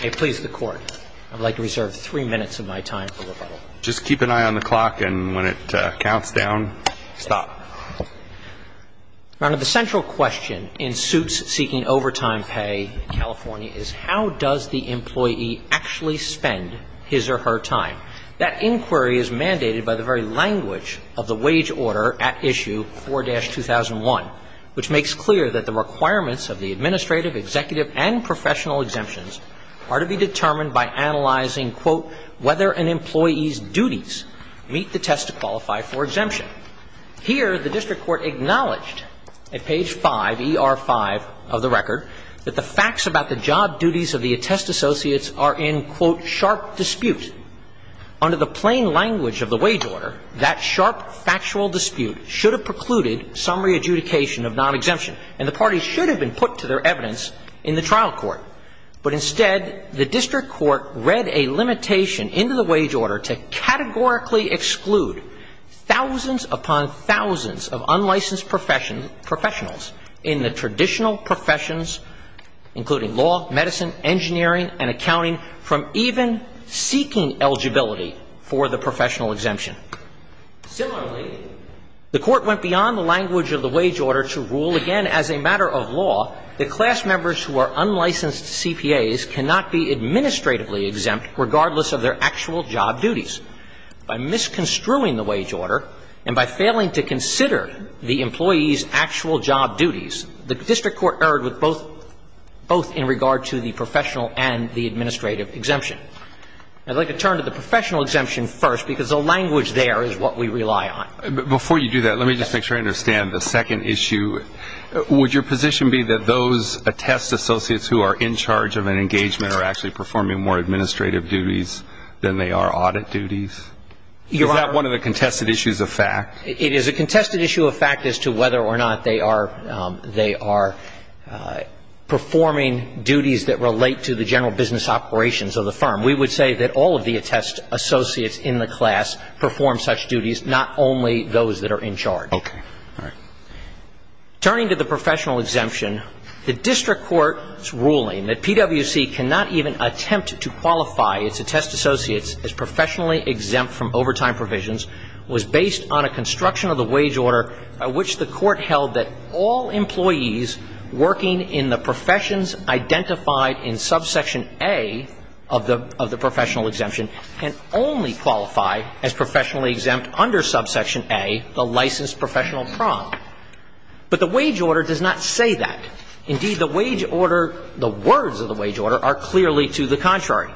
May it please the Court, I would like to reserve three minutes of my time for rebuttal. Just keep an eye on the clock and when it counts down, stop. Your Honor, the central question in suits seeking overtime pay in California is how does the employee actually spend his or her time? That inquiry is mandated by the very language of the wage order at issue 4-2001, which makes clear that the requirements of the administrative, executive, and professional exemptions are to be determined by analyzing, quote, whether an employee's duties meet the test to qualify for exemption. Here, the district court acknowledged at page 5, E.R. 5 of the record, that the facts about the job duties of the attest associates are in, quote, sharp dispute. Under the plain language of the wage order, that sharp factual dispute should have precluded some re-adjudication of non-exemption and the parties should have been put to their evidence in the trial court. But instead, the district court read a limitation into the wage order to categorically exclude thousands upon thousands of unlicensed professionals in the traditional professions, including law, medicine, engineering, and accounting, from even seeking eligibility for the professional exemption. Similarly, the court went beyond the language of the wage order to rule again as a matter of law that class members who are unlicensed CPAs cannot be administratively exempt regardless of their actual job duties. By misconstruing the wage order and by failing to consider the employee's actual job duties, the district court erred with both – both in regard to the professional and the administrative exemption. I'd like to turn to the professional exemption first because the language there is what we rely on. Before you do that, let me just make sure I understand the second issue. Would your position be that those attest associates who are in charge of an engagement are actually performing more administrative duties than they are audit duties? Is that one of the contested issues of fact? It is a contested issue of fact as to whether or not they are – they are performing duties that relate to the general business operations of the firm. We would say that all of the attest associates in the class perform such duties, not only those that are in charge. Okay. All right. Turning to the professional exemption, the district court's ruling that PwC cannot even attempt to qualify its attest associates as professionally exempt from overtime provisions was based on a construction of the wage order by which the court held that all employees working in the professions identified in subsection A of the – of the professional exemption can only qualify as professionally exempt under subsection A, the licensed professional prom. But the wage order does not say that. Indeed, the wage order – the words of the wage order are clearly to the contrary.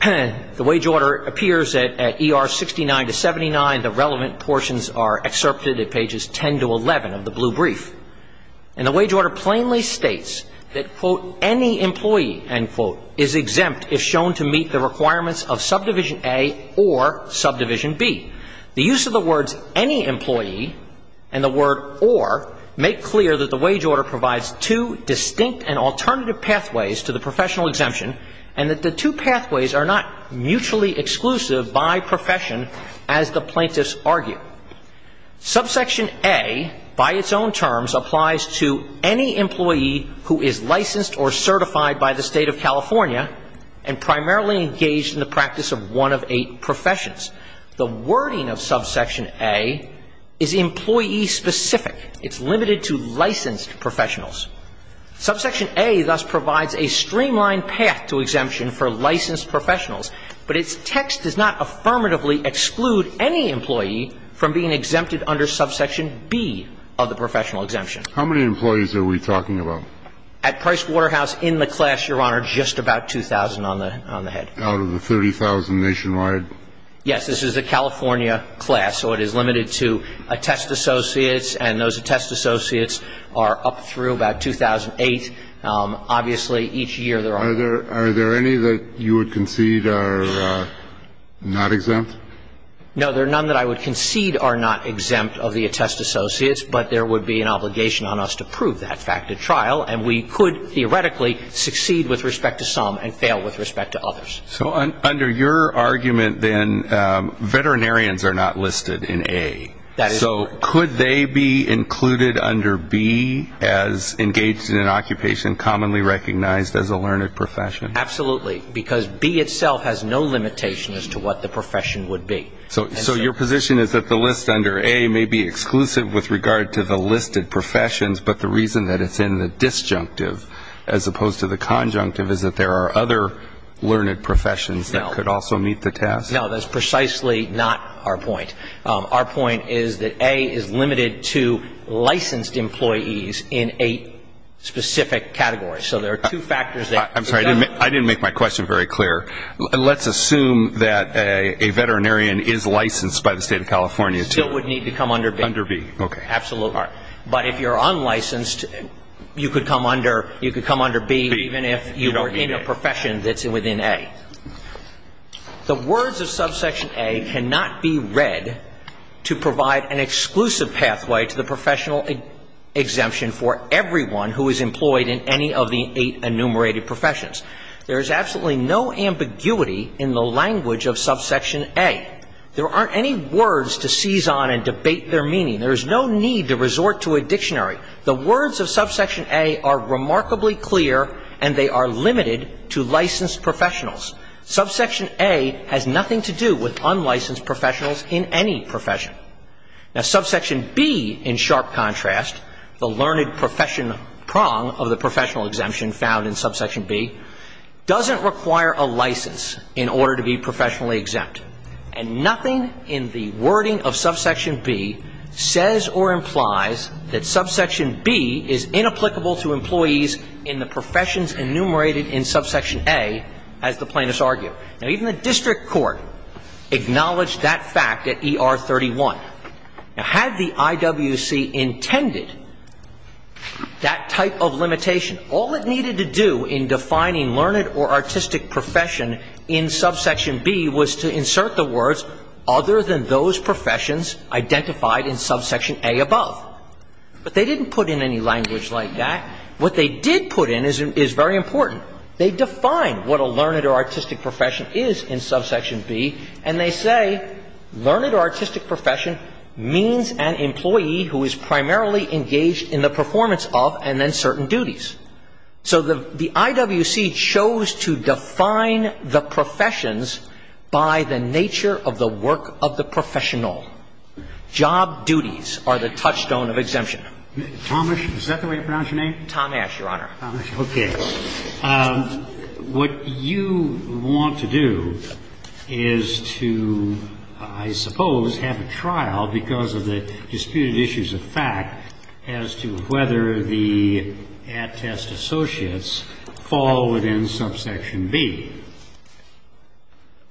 The wage order appears at ER 69 to 79. The relevant portions are excerpted at pages 10 to 11 of the blue brief. And the wage order plainly states that, quote, any employee, end quote, is exempt if shown to meet the requirements of subdivision A or subdivision B. The use of the words any employee and the word or make clear that the wage order provides two distinct and alternative pathways to the professional exemption and that the two pathways are not mutually exclusive by profession as the plaintiffs argue. Subsection A, by its own terms, applies to any employee who is licensed or certified by the State of California and primarily engaged in the practice of one of eight professions. The wording of subsection A is employee-specific. It's limited to licensed professionals. Subsection A thus provides a streamlined path to exemption for licensed professionals, but its text does not affirmatively exclude any employee from being exempted under subsection B of the professional exemption. How many employees are we talking about? At Price Waterhouse, in the class, Your Honor, just about 2,000 on the head. Out of the 30,000 nationwide? Yes. This is a California class, so it is limited to attest associates, and those attest associates are not exempt. There are none that I would concede are not exempt of the attest associates, but there would be an obligation on us to prove that fact at trial, and we could, theoretically, succeed with respect to some and fail with respect to others. So under your argument, then, veterinarians are not listed in A. That is correct. So could they be included under B as included in the classification? Engaged in an occupation commonly recognized as a learned profession? Absolutely. Because B itself has no limitation as to what the profession would be. So your position is that the list under A may be exclusive with regard to the listed professions, but the reason that it's in the disjunctive as opposed to the conjunctive is that there are other learned professions that could also meet the task? No, that's precisely not our point. Our point is that A is limited to licensed employees in a specific category. So there are two factors that it does. I'm sorry. I didn't make my question very clear. Let's assume that a veterinarian is licensed by the State of California to. Still would need to come under B. Under B, okay. Absolutely. But if you're unlicensed, you could come under B even if you were in a profession that's within A. The words of subsection A cannot be read to provide an exclusive pathway to the professional exemption for everyone who is employed in any of the eight enumerated professions. There is absolutely no ambiguity in the language of subsection A. There aren't any words to seize on and debate their meaning. There is no need to resort to a dictionary. The words of subsection A are remarkably clear, and they are limited to licensed professionals. Subsection A has nothing to do with unlicensed professionals in any profession. Now, subsection B, in sharp contrast, the learned profession prong of the professional exemption found in subsection B, doesn't require a license in order to be professionally exempt. And nothing in the wording of subsection B says or implies that subsection B is inapplicable to employees in the professions enumerated in subsection A, as the plaintiffs argue. Now, even the district court acknowledged that fact at ER 31. Now, had the IWC intended that type of limitation, all it needed to do in defining learned or artistic profession in subsection B was to insert the words other than those professions identified in subsection A above. But they didn't put in any language like that. What they did put in is very important. They define what a learned or artistic profession is in subsection B, and they say learned or artistic profession means an employee who is primarily engaged in the performance of and then certain duties. So the IWC chose to define the professions by the nature of the work of the professional. Job duties are the touchstone of exemption. Tomash? Is that the way to pronounce your name? Tomash, Your Honor. Okay. What you want to do is to, I suppose, have a trial because of the disputed issues of fact as to whether the at-test associates fall within subsection B.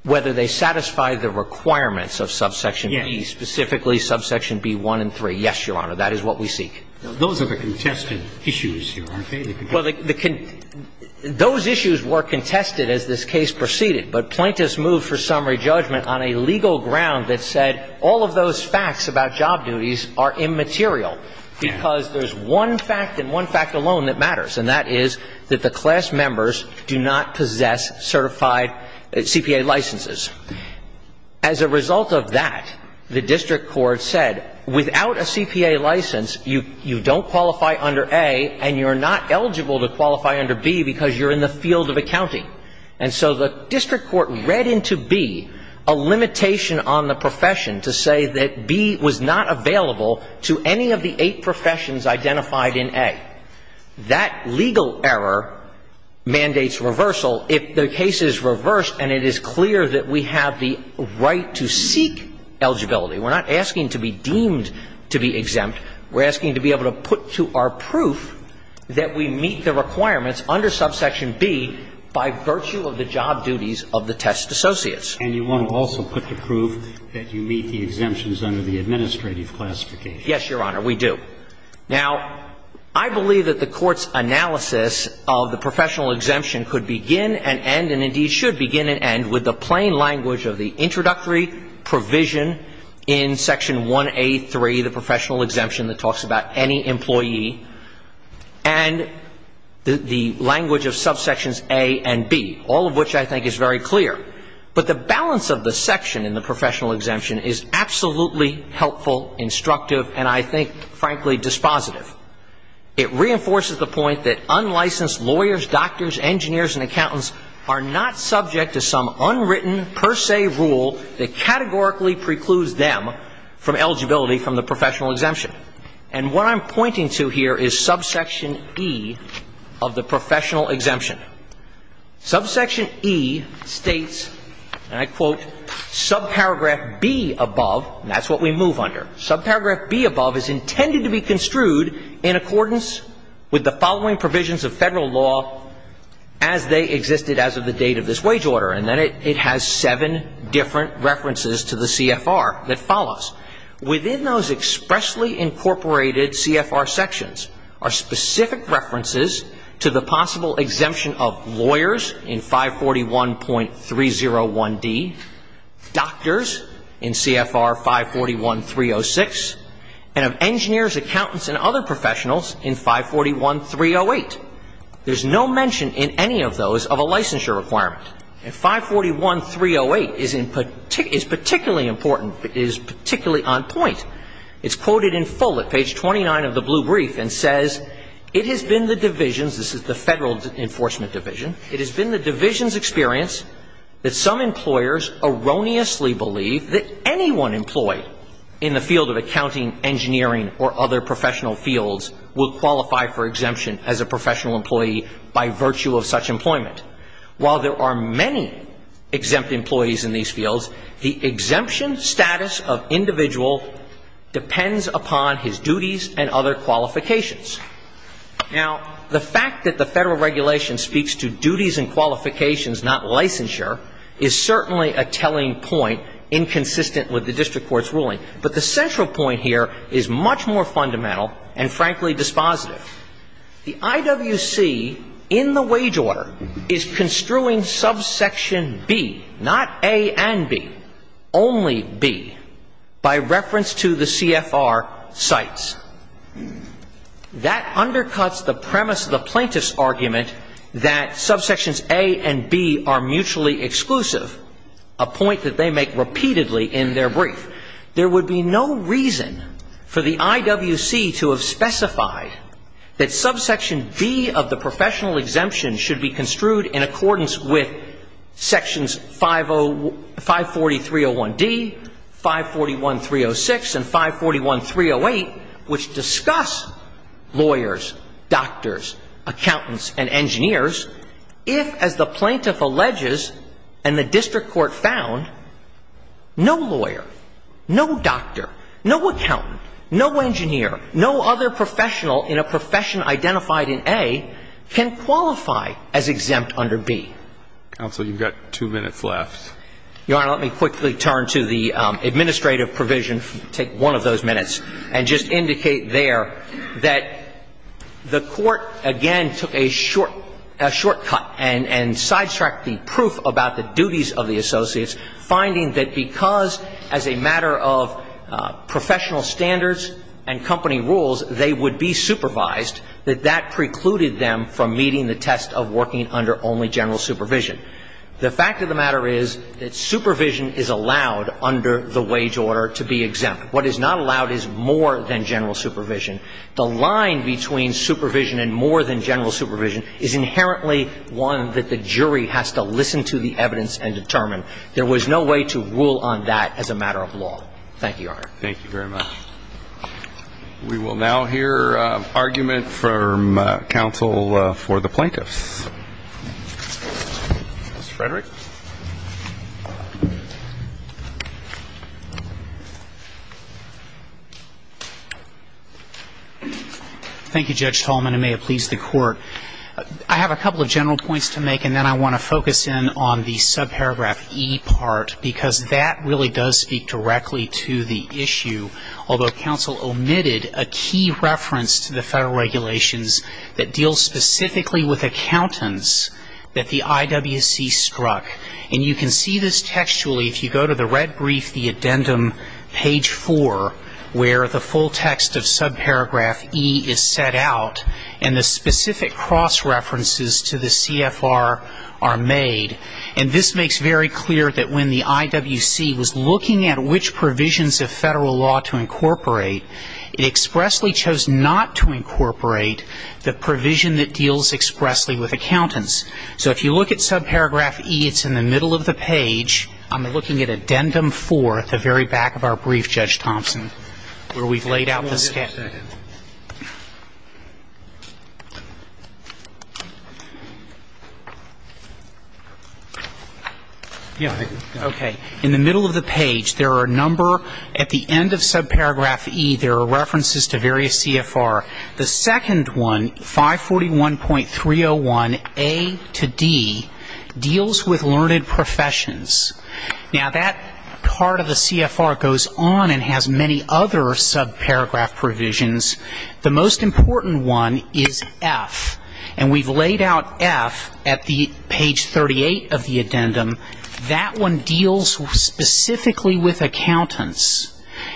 Whether they satisfy the requirements of subsection B, specifically subsection B1 and 3. Yes, Your Honor. That is what we seek. Those are the contested issues, Your Honor. Well, those issues were contested as this case proceeded. But plaintiffs moved for summary judgment on a legal ground that said all of those facts about job duties are immaterial because there's one fact and one fact alone that matters, and that is that the class members do not possess certified CPA licenses. As a result of that, the district court said without a CPA license, you don't qualify under A and you're not eligible to qualify under B because you're in the field of accounting. And so the district court read into B a limitation on the profession to say that B was not available to any of the eight professions identified in A. That legal error mandates reversal if the case is reversed and it is clear that we have the right to seek eligibility. We're not asking to be deemed to be exempt. We're asking to be able to put to our proof that we meet the requirements under subsection B by virtue of the job duties of the test associates. And you want to also put to proof that you meet the exemptions under the administrative classification. Yes, Your Honor, we do. Now, I believe that the Court's analysis of the professional exemption could begin and end, and indeed should begin and end, with the plain language of the introductory provision in Section 1A.3, the professional exemption that talks about any employee, and the language of subsections A and B, all of which I think is very clear. But the balance of the section in the professional exemption is absolutely helpful, instructive, and I think, frankly, dispositive. It reinforces the point that unlicensed lawyers, doctors, engineers, and accountants are not subject to some unwritten per se rule that categorically precludes them from eligibility from the professional exemption. And what I'm pointing to here is subsection E of the professional exemption. Subsection E states, and I quote, subparagraph B above, and that's what we move under, subparagraph B above is intended to be construed in accordance with the following provisions of Federal law as they existed as of the date of this wage order. And then it has seven different references to the CFR that follow. Within those expressly incorporated CFR sections are specific references to the possible and of engineers, accountants, and other professionals in 541.308. There's no mention in any of those of a licensure requirement. And 541.308 is particularly important. It is particularly on point. It's quoted in full at page 29 of the blue brief and says, it has been the divisions, this is the Federal Enforcement Division, it has been the division's experience that some employers erroneously believe that anyone employed in the field of accounting, engineering, or other professional fields will qualify for exemption as a professional employee by virtue of such employment. While there are many exempt employees in these fields, the exemption status of individual depends upon his duties and other qualifications. Now, the fact that the Federal regulation speaks to duties and qualifications, not licensure, is certainly a telling point inconsistent with the district court's ruling. But the central point here is much more fundamental and, frankly, dispositive. The IWC in the wage order is construing subsection B, not A and B, only B, by reference to the CFR sites. That undercuts the premise of the plaintiff's argument that subsections A and B are mutually exclusive, a point that they make repeatedly in their brief. There would be no reason for the IWC to have specified that subsection B of the professional exemption should be construed in accordance with sections 540.301D, 541.306, and 541.308 which discuss lawyers, doctors, accountants, and engineers if, as the plaintiff alleges and the district court found, no lawyer, no doctor, no accountant, no engineer, no other professional in a profession identified in A can qualify as exempt under B. Counsel, you've got two minutes left. Your Honor, let me quickly turn to the administrative provision, take one of those minutes, and just indicate there that the Court, again, took a short cut and sidetracked the proof about the duties of the associates, finding that because, as a matter of professional standards and company rules, they would be supervised, that that precluded them from meeting the test of working under only general supervision. The fact of the matter is that supervision is allowed under the wage order to be exempt. What is not allowed is more than general supervision. The line between supervision and more than general supervision is inherently one that the jury has to listen to the evidence and determine. There was no way to rule on that as a matter of law. Thank you, Your Honor. Thank you very much. We will now hear argument from counsel for the plaintiffs. Mr. Frederick. Thank you, Judge Tallman, and may it please the Court. I have a couple of general points to make, and then I want to focus in on the subparagraph E part, because that really does speak directly to the issue. Although counsel omitted a key reference to the Federal regulations that deal specifically with accountants that the IWC struck, and you can see this textually if you go to the red brief, the addendum, page 4, where the full text of subparagraph E is set out, and the specific cross-references to the CFR are made. And this makes very clear that when the IWC was looking at which provisions of Federal law to incorporate, it expressly chose not to incorporate the provision that deals expressly with accountants. So if you look at subparagraph E, it's in the middle of the page. I'm looking at addendum 4 at the very back of our brief, Judge Thompson, where we've laid out the step. Yeah. Okay. In the middle of the page, there are a number at the end of subparagraph E, there are references to various CFR. The second one, 541.301A to D, deals with learned professions. Now, that part of the CFR goes on and has many other subparagraph provisions. The most important one is F, and we've laid out F at the page 38 of the addendum. That one deals specifically with accountants.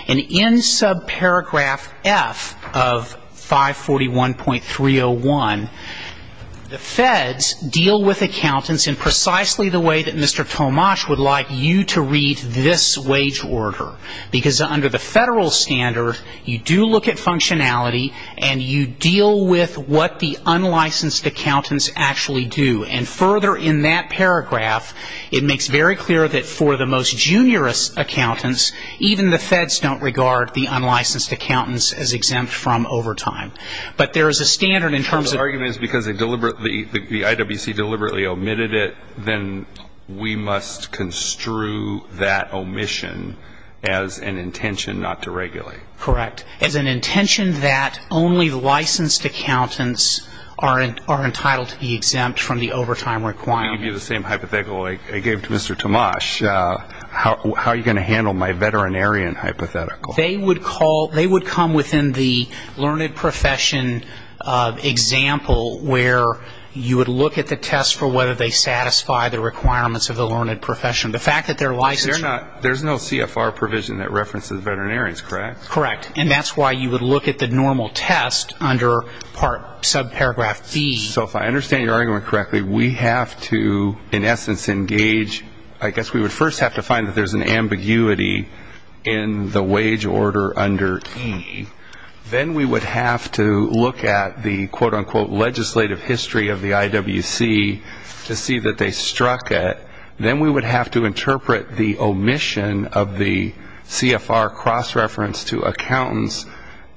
And in subparagraph F of 541.301, the Feds deal with accountants in precisely the way that Mr. Tomasz would like you to read this wage order, because under the Federal standard, you do look at functionality and you deal with what the unlicensed accountants actually do. And further in that paragraph, it makes very clear that for the most juniorous accountants, even the Feds don't regard the unlicensed accountants as exempt from overtime. But there is a standard in terms of The argument is because they deliberately, the IWC deliberately omitted it, then we must construe that omission as an intention not to regulate. Correct. As an intention that only licensed accountants are entitled to be exempt from the overtime requirement. I gave you the same hypothetical I gave to Mr. Tomasz. How are you going to handle my veterinarian hypothetical? They would come within the learned profession example where you would look at the test for whether they satisfy the requirements of the learned profession. The fact that they're licensed There's no CFR provision that references veterinarians, correct? Correct. And that's why you would look at the normal test under subparagraph B. So if I understand your argument correctly, we have to in essence engage, I guess we would first have to find that there's an ambiguity in the wage order under E. Then we would have to look at the quote-unquote legislative history of the IWC to see that they struck it. Then we would have to interpret the omission of the CFR cross-reference to accountants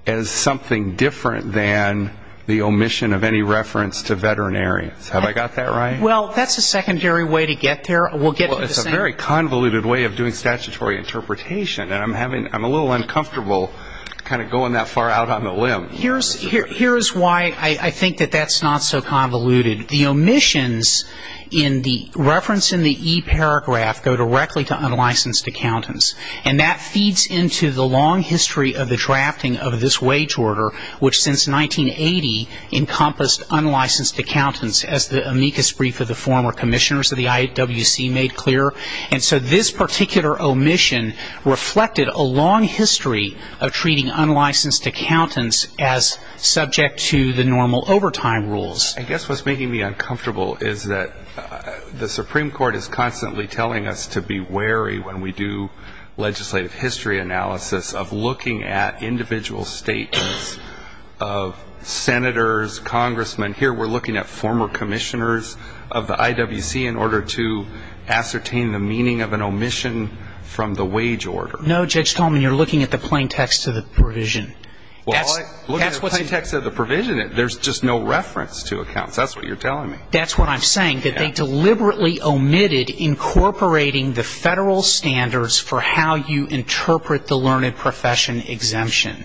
as something different than the omission of any reference to veterinarians. Have I got that right? Well, that's a secondary way to get there. It's a very convoluted way of doing statutory interpretation. I'm a little uncomfortable kind of going that far out on the limb. Here's why I think that that's not so convoluted. The omissions in the reference in the E paragraph go directly to unlicensed accountants. And that feeds into the long history of the drafting of this wage order, which since 1980 encompassed unlicensed accountants, as the amicus brief of the former commissioners of the IWC made clear. And so this particular omission reflected a long history of treating unlicensed accountants as subject to the normal overtime rules. I guess what's making me uncomfortable is that the Supreme Court is constantly telling us to be wary when we do legislative history analysis of looking at individual statements of senators, congressmen. Here we're looking at former commissioners of the IWC in order to ascertain the meaning of an omission from the wage order. No, Judge Coleman, you're looking at the plain text of the provision. Look at the plain text of the provision. There's just no reference to accounts. That's what you're telling me. That's what I'm saying, that they deliberately omitted incorporating the federal standards for how you interpret the learned profession exemption.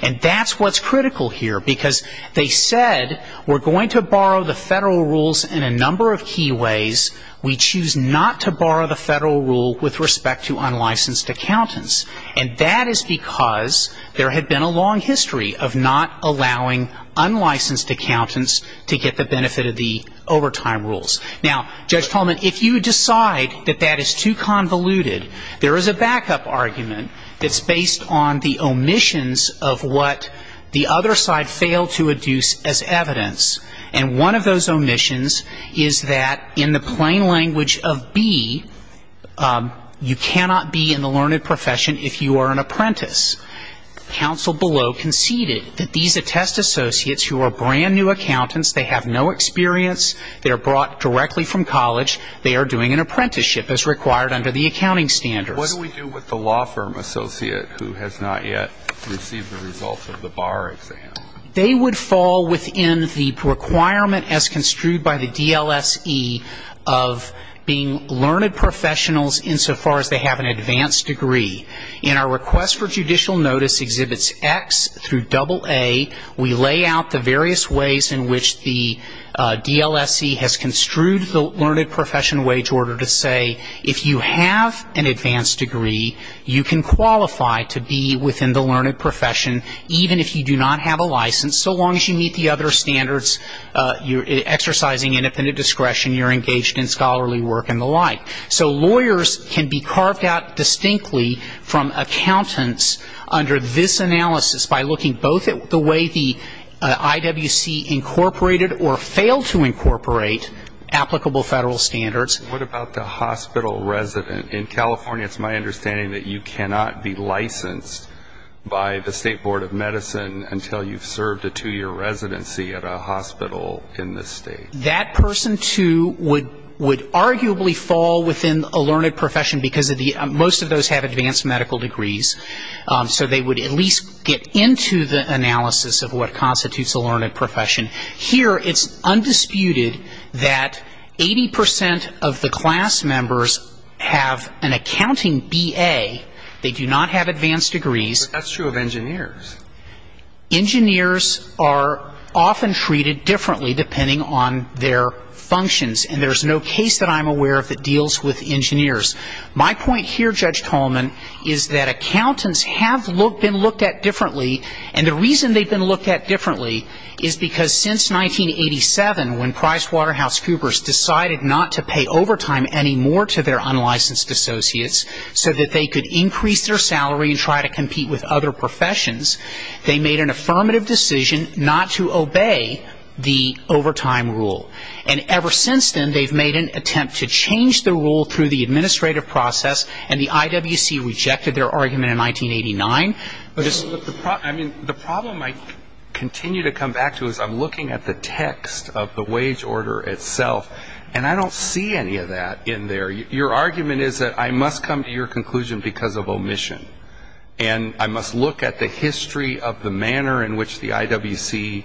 And that's what's critical here, because they said we're going to borrow the federal rules in a number of key ways. We choose not to borrow the federal rule with respect to unlicensed accountants. And that is because there had been a long history of not allowing unlicensed accountants to get the benefit of the overtime rules. Now, Judge Coleman, if you decide that that is too convoluted, there is a backup argument that's based on the omissions of what the other side failed to adduce as evidence. And one of those omissions is that in the plain language of B, you cannot be in the learned profession if you are an apprentice. Counsel below conceded that these attest associates who are brand-new accountants, they have no experience, they are brought directly from college, they are doing an apprenticeship as required under the accounting standards. What do we do with the law firm associate who has not yet received the results of the bar exam? They would fall within the requirement as construed by the DLSE of being learned professionals insofar as they have an advanced degree. In our request for judicial notice exhibits X through AA, we lay out the various ways in which the DLSE has construed the learned profession wage order to say if you have an advanced degree, you can qualify to be within the learned profession, even if you do not have a license, so long as you meet the other standards, you're exercising independent discretion, you're engaged in scholarly work and the like. So lawyers can be carved out distinctly from accountants under this analysis by looking both at the way the IWC incorporated or failed to incorporate applicable federal standards. What about the hospital resident? In California, it's my understanding that you cannot be licensed by the State Board of Medicine until you've had a two-year residency at a hospital in the state. That person, too, would arguably fall within a learned profession because most of those have advanced medical degrees, so they would at least get into the analysis of what constitutes a learned profession. Here it's undisputed that 80 percent of the class members have an accounting BA. They do not have advanced degrees. But that's true of engineers. Engineers are often treated differently depending on their functions. And there's no case that I'm aware of that deals with engineers. My point here, Judge Tolman, is that accountants have been looked at differently. And the reason they've been looked at differently is because since 1987, when PricewaterhouseCoopers decided not to pay overtime any more to their unlicensed associates so that they could increase their business, they made an affirmative decision not to obey the overtime rule. And ever since then, they've made an attempt to change the rule through the administrative process, and the IWC rejected their argument in 1989. The problem I continue to come back to is I'm looking at the text of the wage order itself, and I don't see any of that in there. Your argument is that I must come to your conclusion because of omission. And I must look at the history of the manner in which the IWC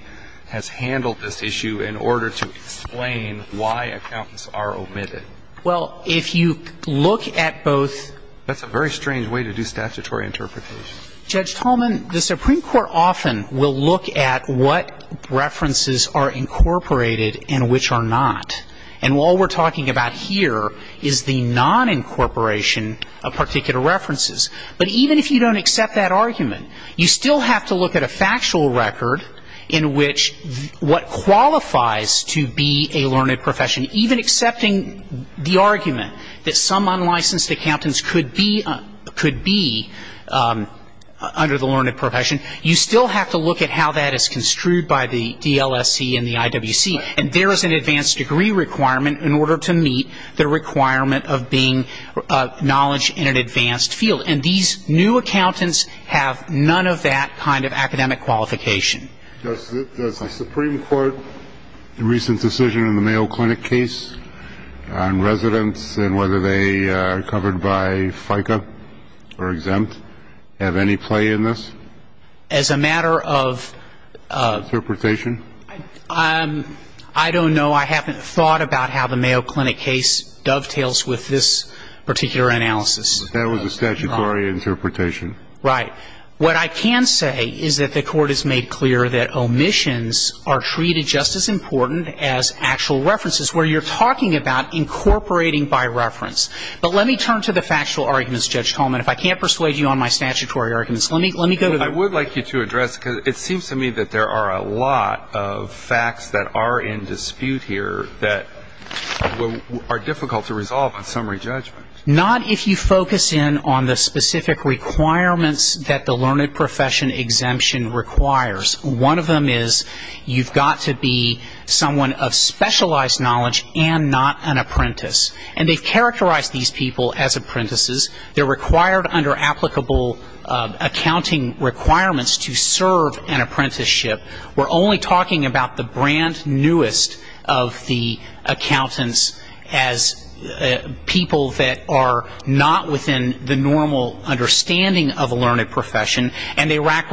has handled this issue in order to explain why accountants are omitted. Well, if you look at both — That's a very strange way to do statutory interpretation. Judge Tolman, the Supreme Court often will look at what references are incorporated and which are not. And all we're talking about here is the non-incorporation of particular references. But even if you don't accept that argument, you still have to look at a factual record in which what qualifies to be a learned profession. Even accepting the argument that some unlicensed accountants could be under the learned profession, you still have to look at how that is construed by the DLSC and the IWC. And there is an advanced degree requirement in order to meet the requirement of being of knowledge in an advanced field. And these new accountants have none of that kind of academic qualification. Does the Supreme Court's recent decision in the Mayo Clinic case on residents and whether they are covered by FICA or exempt have any play in this? As a matter of — Interpretation? I don't know. I haven't thought about how the Mayo Clinic case dovetails with this particular analysis. That was a statutory interpretation. Right. What I can say is that the Court has made clear that omissions are treated just as important as actual references, where you're talking about incorporating by reference. But let me turn to the factual arguments, Judge Tolman. If I can't persuade you on my statutory arguments, let me go to the — I would like you to address, because it seems to me that there are a lot of facts that are in dispute here that are difficult to resolve on summary judgment. Not if you focus in on the specific requirements that the learned profession exemption requires. One of them is you've got to be someone of specialized knowledge and not an apprentice. And they've characterized these people as apprentices. They're required under applicable accounting requirements to serve an apprenticeship. We're only talking about the brand newest of the accountants as people that are not within the normal understanding of a learned profession, and they lack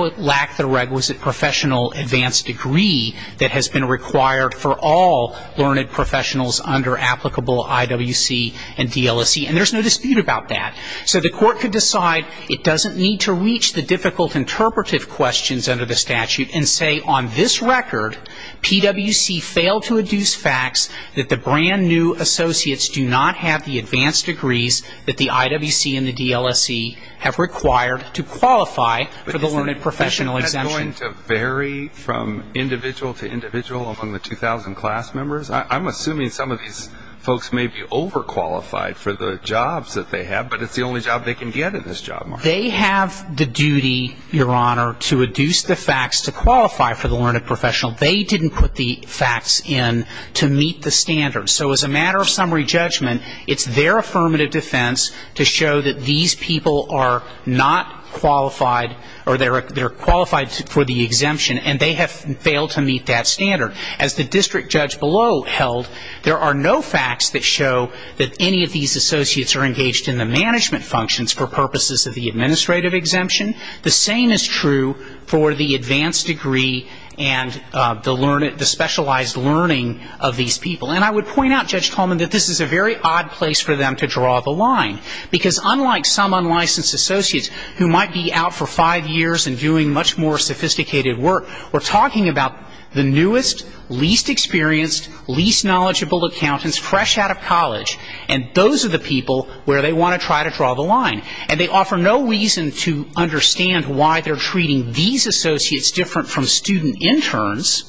the requisite professional advanced degree that has been required for all learned professionals under applicable IWC and DLSE. And there's no dispute about that. So the Court could decide it doesn't need to reach the difficult interpretive questions under the statute and say on this record, PWC failed to induce facts that the brand new associates do not have the advanced degrees that the IWC and the DLSE have required to qualify for the learned professional exemption. But isn't that going to vary from individual to individual among the 2,000 class members? I'm assuming some of these folks may be overqualified for the jobs that they have, but it's the only job they can get in this job market. They have the duty, Your Honor, to induce the facts to qualify for the learned professional. They didn't put the facts in to meet the standards. So as a matter of summary judgment, it's their affirmative defense to show that these people are not qualified or they're qualified for the exemption, and they have failed to meet that standard. As the district judge below held, there are no facts that show that any of these associates are engaged in the management functions for purposes of the administrative exemption. The same is true for the advanced degree and the specialized learning of these people. And I would point out, Judge Coleman, that this is a very odd place for them to draw the line, because unlike some unlicensed associates who might be out for five years and doing much more sophisticated work, we're talking about the newest, least experienced, least knowledgeable accountants fresh out of college, and those are the people where they want to try to draw the line. And they offer no reason to understand why they're treating these associates different from student interns,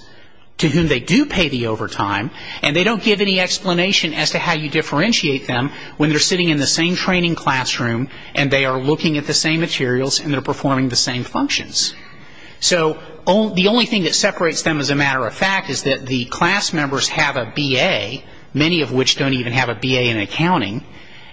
to whom they do pay the overtime, and they don't give any explanation as to how you differentiate them when they're sitting in the same training classroom and they are looking at the same materials and they're performing the same functions. So the only thing that separates them, as a matter of fact, is that the class members have a B.A., many of which don't even have a B.A. in accounting,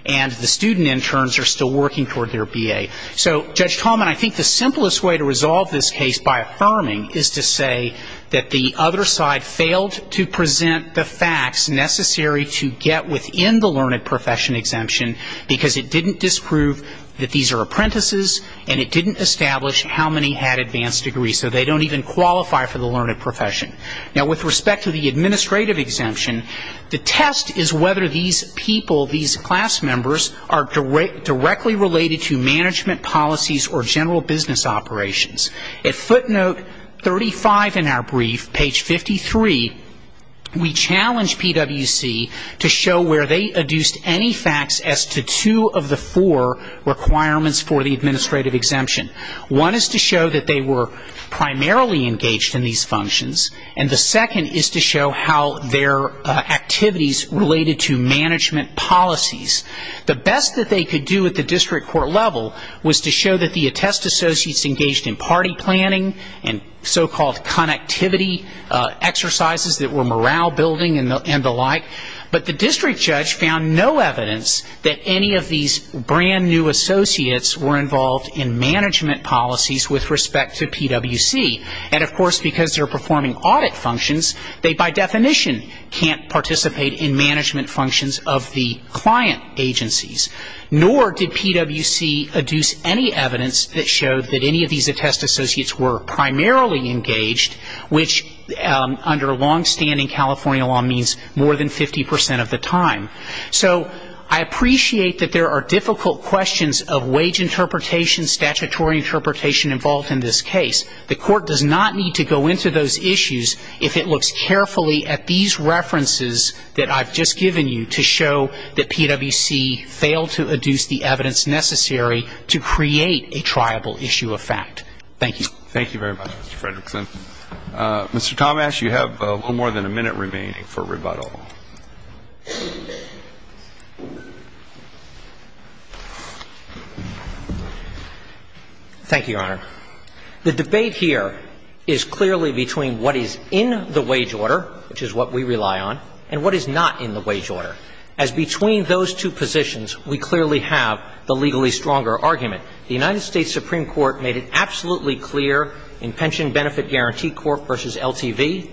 and the student interns are still working toward their B.A. So, Judge Coleman, I think the simplest way to resolve this case by affirming is to say that the other side failed to present the facts necessary to get within the learned profession exemption, because it didn't disprove that these are apprentices and it didn't establish how many had advanced degrees, so they don't even qualify for the learned profession. Now, with respect to the administrative exemption, the test is whether these people, these class members, are directly related to management policies or general business operations. At footnote 35 in our brief, page 53, we challenge PWC to show where they adduced any facts as to two of the four requirements for the administrative exemption. One is to show that they were primarily engaged in these functions, and the second is to show how their activities related to management policies. The best that they could do at the time was to show that they were engaged in party planning and so-called connectivity exercises that were morale-building and the like, but the district judge found no evidence that any of these brand-new associates were involved in management policies with respect to PWC. And, of course, because they're performing audit functions, they by definition can't participate in management functions of the client agencies, nor did PWC adduce any evidence that showed that any of these attestations were primarily engaged, which under long-standing California law means more than 50 percent of the time. So I appreciate that there are difficult questions of wage interpretation, statutory interpretation involved in this case. The court does not need to go into those issues if it looks carefully at these references that I've just given you to show that PWC failed to adduce the evidence. Thank you. Thank you very much, Mr. Fredrickson. Mr. Tomash, you have a little more than a minute remaining for rebuttal. Thank you, Your Honor. The debate here is clearly between what is in the wage order, which is what we rely on, and what is not in the wage order, as between those two positions we clearly have the legally stronger argument. The United States Supreme Court made it absolutely clear in Pension Benefit Guarantee Court v. LTV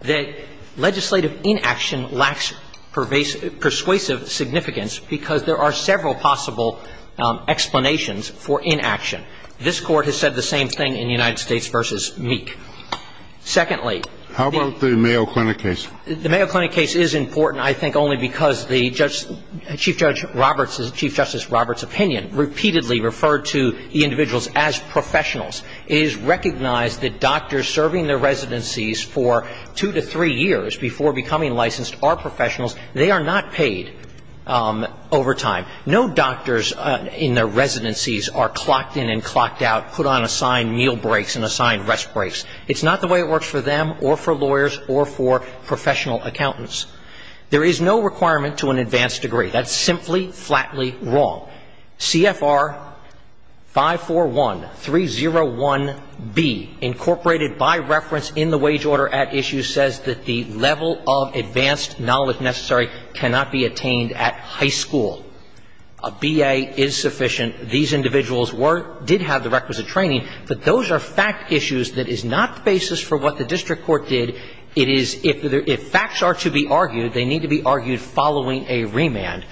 that legislative inaction lacks persuasive significance because there are several possible explanations for inaction. This Court has said the same thing in United States v. Meek. Secondly, the ---- How about the Mayo Clinic case? The Mayo Clinic case is important, I think, only because the Chief Judge Roberts' ---- Chief Justice Roberts' opinion repeatedly referred to the individuals as professionals. It is recognized that doctors serving their residencies for two to three years before becoming licensed are professionals. They are not paid over time. No doctors in their residencies are clocked in and clocked out, put on assigned meal breaks and assigned rest breaks. It's not the way it works for them or for lawyers or for professional accountants. There is no requirement to an advanced degree. That's simply, flatly wrong. CFR 541301B, incorporated by reference in the wage order at issue, says that the level of advanced knowledge necessary cannot be attained at high school. A B.A. is sufficient. These individuals were ---- did have the requisite training, but those are fact issues that is not the basis for what the district court did. It is ---- if facts are to be argued, they need to be argued following a remand.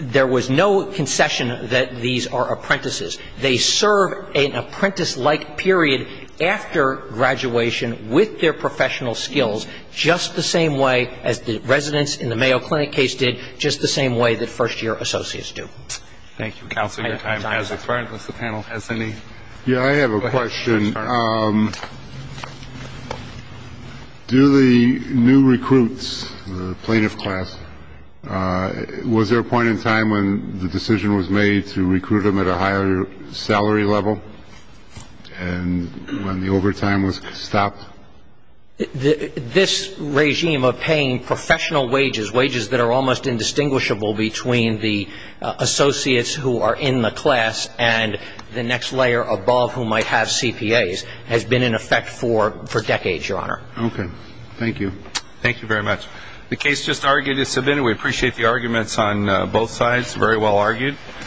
There was no concession that these are apprentices. They serve an apprentice-like period after graduation with their professional skills, just the same way as the residents in the Mayo Clinic case did, just the same way that first-year associates do. Thank you, counsel. Your time has expired. Unless the panel has any ---- Yeah, I have a question. Do the new recruits, the plaintiff class, was there a point in time when the decision was made to recruit them at a higher salary level and when the overtime was stopped? This regime of paying professional wages, wages that are almost indistinguishable between the associates who are in the class and the next layer above who might have CPAs, has been in effect for decades, Your Honor. Okay. Thank you. Thank you very much. The case just argued is submitted. We appreciate the arguments on both sides. Very well argued.